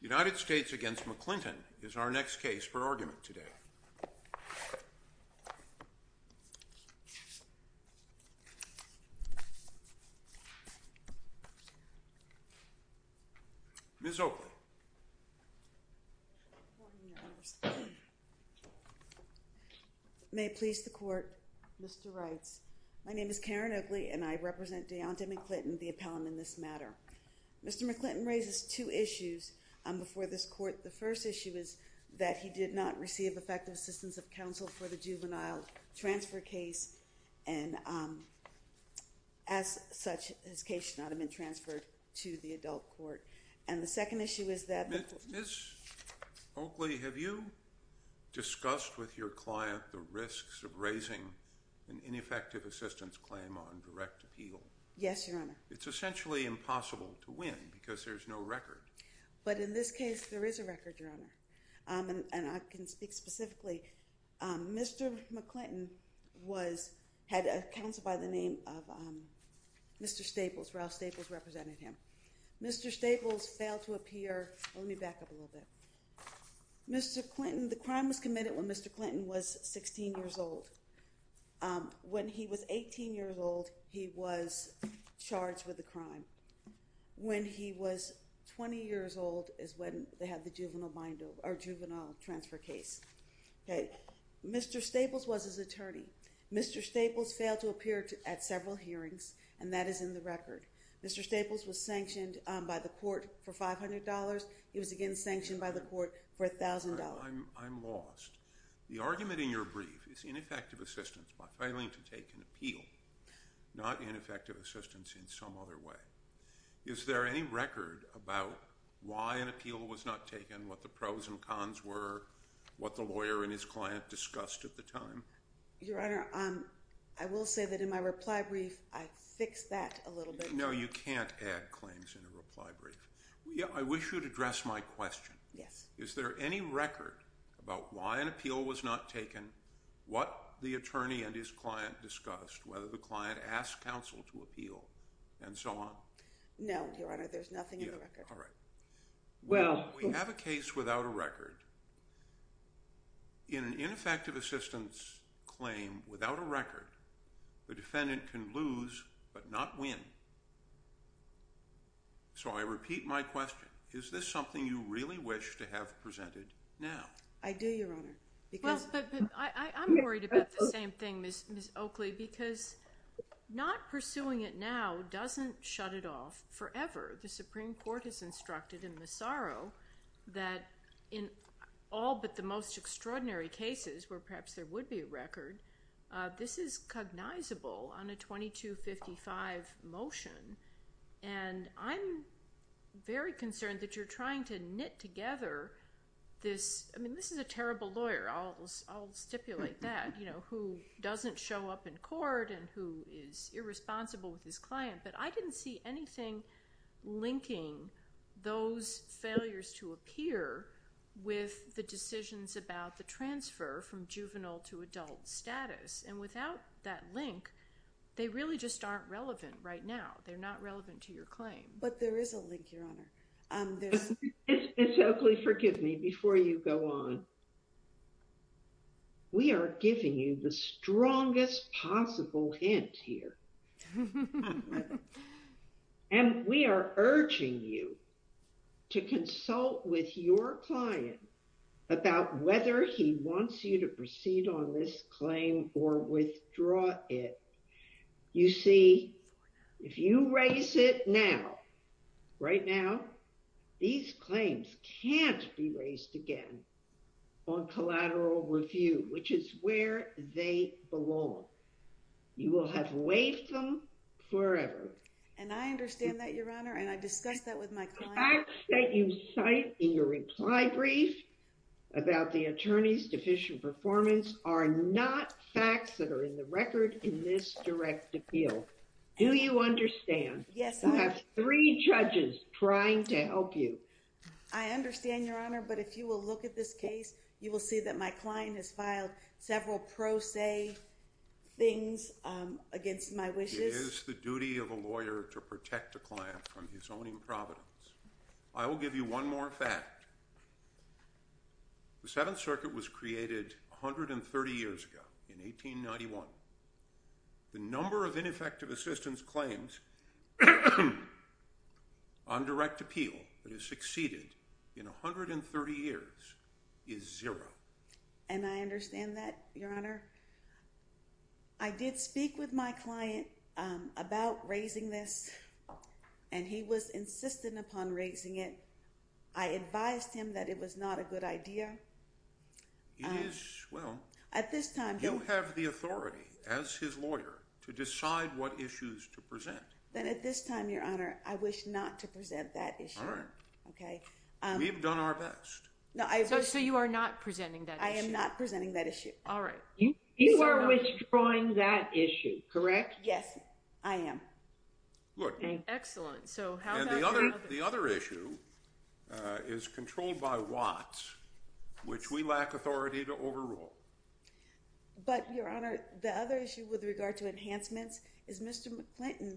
United States v. McClinton is our next case for argument today. Ms. Oakley. May it please the Court, Mr. Reitz. My name is Karen Oakley and I represent Dayonta McClinton, the appellant in this matter. Mr. McClinton raises two issues before this Court. The first issue is that he did not receive effective assistance of counsel for the juvenile transfer case. And as such, his case should not have been transferred to the adult court. And the second issue is that... Ms. Oakley, have you discussed with your client the risks of raising an ineffective assistance claim on direct appeal? Yes, Your Honor. It's essentially impossible to win because there's no record. But in this case, there is a record, Your Honor. And I can speak specifically. Mr. McClinton had counsel by the name of Mr. Staples. Ralph Staples represented him. Mr. Staples failed to appear. Let me back up a little bit. Mr. Clinton, the crime was committed when Mr. Clinton was 16 years old. When he was 18 years old, he was charged with the crime. When he was 20 years old is when they had the juvenile transfer case. Mr. Staples was his attorney. Mr. Staples failed to appear at several hearings, and that is in the record. Mr. Staples was sanctioned by the court for $500. He was again sanctioned by the court for $1,000. Your Honor, I'm lost. The argument in your brief is ineffective assistance by failing to take an appeal, not ineffective assistance in some other way. Is there any record about why an appeal was not taken, what the pros and cons were, what the lawyer and his client discussed at the time? Your Honor, I will say that in my reply brief, I fixed that a little bit. No, you can't add claims in a reply brief. I wish you would address my question. Yes. Is there any record about why an appeal was not taken, what the attorney and his client discussed, whether the client asked counsel to appeal, and so on? No, Your Honor. There's nothing in the record. All right. Well… We have a case without a record. In an ineffective assistance claim without a record, the defendant can lose but not win. So I repeat my question. Is this something you really wish to have presented now? I do, Your Honor. I'm worried about the same thing, Ms. Oakley, because not pursuing it now doesn't shut it off forever. The Supreme Court has instructed in Massaro that in all but the most extraordinary cases where perhaps there would be a record, this is cognizable on a 2255 motion. And I'm very concerned that you're trying to knit together this – I mean, this is a terrible lawyer. I'll stipulate that, you know, who doesn't show up in court and who is irresponsible with his client. But I didn't see anything linking those failures to appear with the decisions about the transfer from juvenile to adult status. And without that link, they really just aren't relevant right now. They're not relevant to your claim. Ms. Oakley, forgive me before you go on. We are giving you the strongest possible hint here. And we are urging you to consult with your client about whether he wants you to proceed on this claim or withdraw it. You see, if you raise it now, right now, these claims can't be raised again on collateral review, which is where they belong. You will have waived them forever. And I understand that, Your Honor, and I discussed that with my client. The facts that you cite in your reply brief about the attorney's deficient performance are not facts that are in the record in this direct appeal. Do you understand? Yes, I do. You have three judges trying to help you. I understand, Your Honor, but if you will look at this case, you will see that my client has filed several pro se things against my wishes. It is the duty of a lawyer to protect a client from his own improvidence. I will give you one more fact. The Seventh Circuit was created 130 years ago in 1891. The number of ineffective assistance claims on direct appeal that has succeeded in 130 years is zero. And I understand that, Your Honor. I did speak with my client about raising this, and he was insistent upon raising it. I advised him that it was not a good idea. It is, well, you have the authority as his lawyer to decide what issues to present. Then at this time, Your Honor, I wish not to present that issue. All right. We've done our best. So you are not presenting that issue? I am not presenting that issue. All right. You are withdrawing that issue, correct? Yes, I am. Excellent. And the other issue is controlled by Watts, which we lack authority to overrule. But, Your Honor, the other issue with regard to enhancements is Mr. McClinton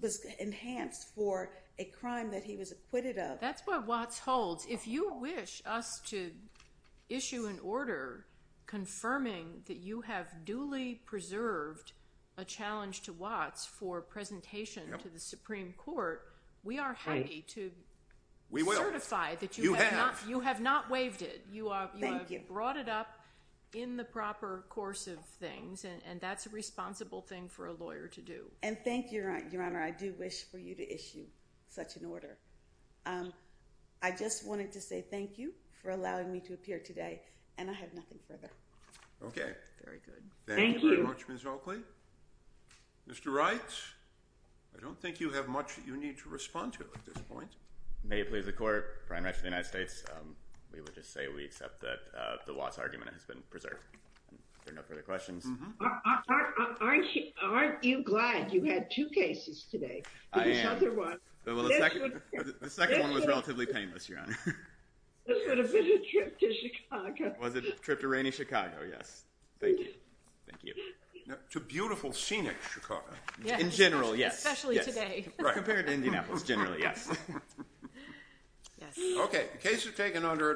was enhanced for a crime that he was acquitted of. That's what Watts holds. If you wish us to issue an order confirming that you have duly preserved a challenge to Watts for presentation to the Supreme Court, we are happy to certify that you have not waived it. Thank you. You have brought it up in the proper course of things, and that's a responsible thing for a lawyer to do. And thank you, Your Honor. I do wish for you to issue such an order. I just wanted to say thank you for allowing me to appear today, and I have nothing further. Okay. Very good. Thank you. Thank you very much, Ms. Oakley. Mr. Wright, I don't think you have much that you need to respond to at this point. May it please the Court, Prime Minister of the United States, we would just say we accept that the Watts argument has been preserved. If there are no further questions. Aren't you glad you had two cases today? I am. The second one was relatively painless, Your Honor. Was it a trip to rainy Chicago? Yes. Thank you. Thank you. To beautiful, scenic Chicago. In general, yes. Especially today. Compared to Indianapolis, generally, yes. Yes. Okay. The case is taken under advisory.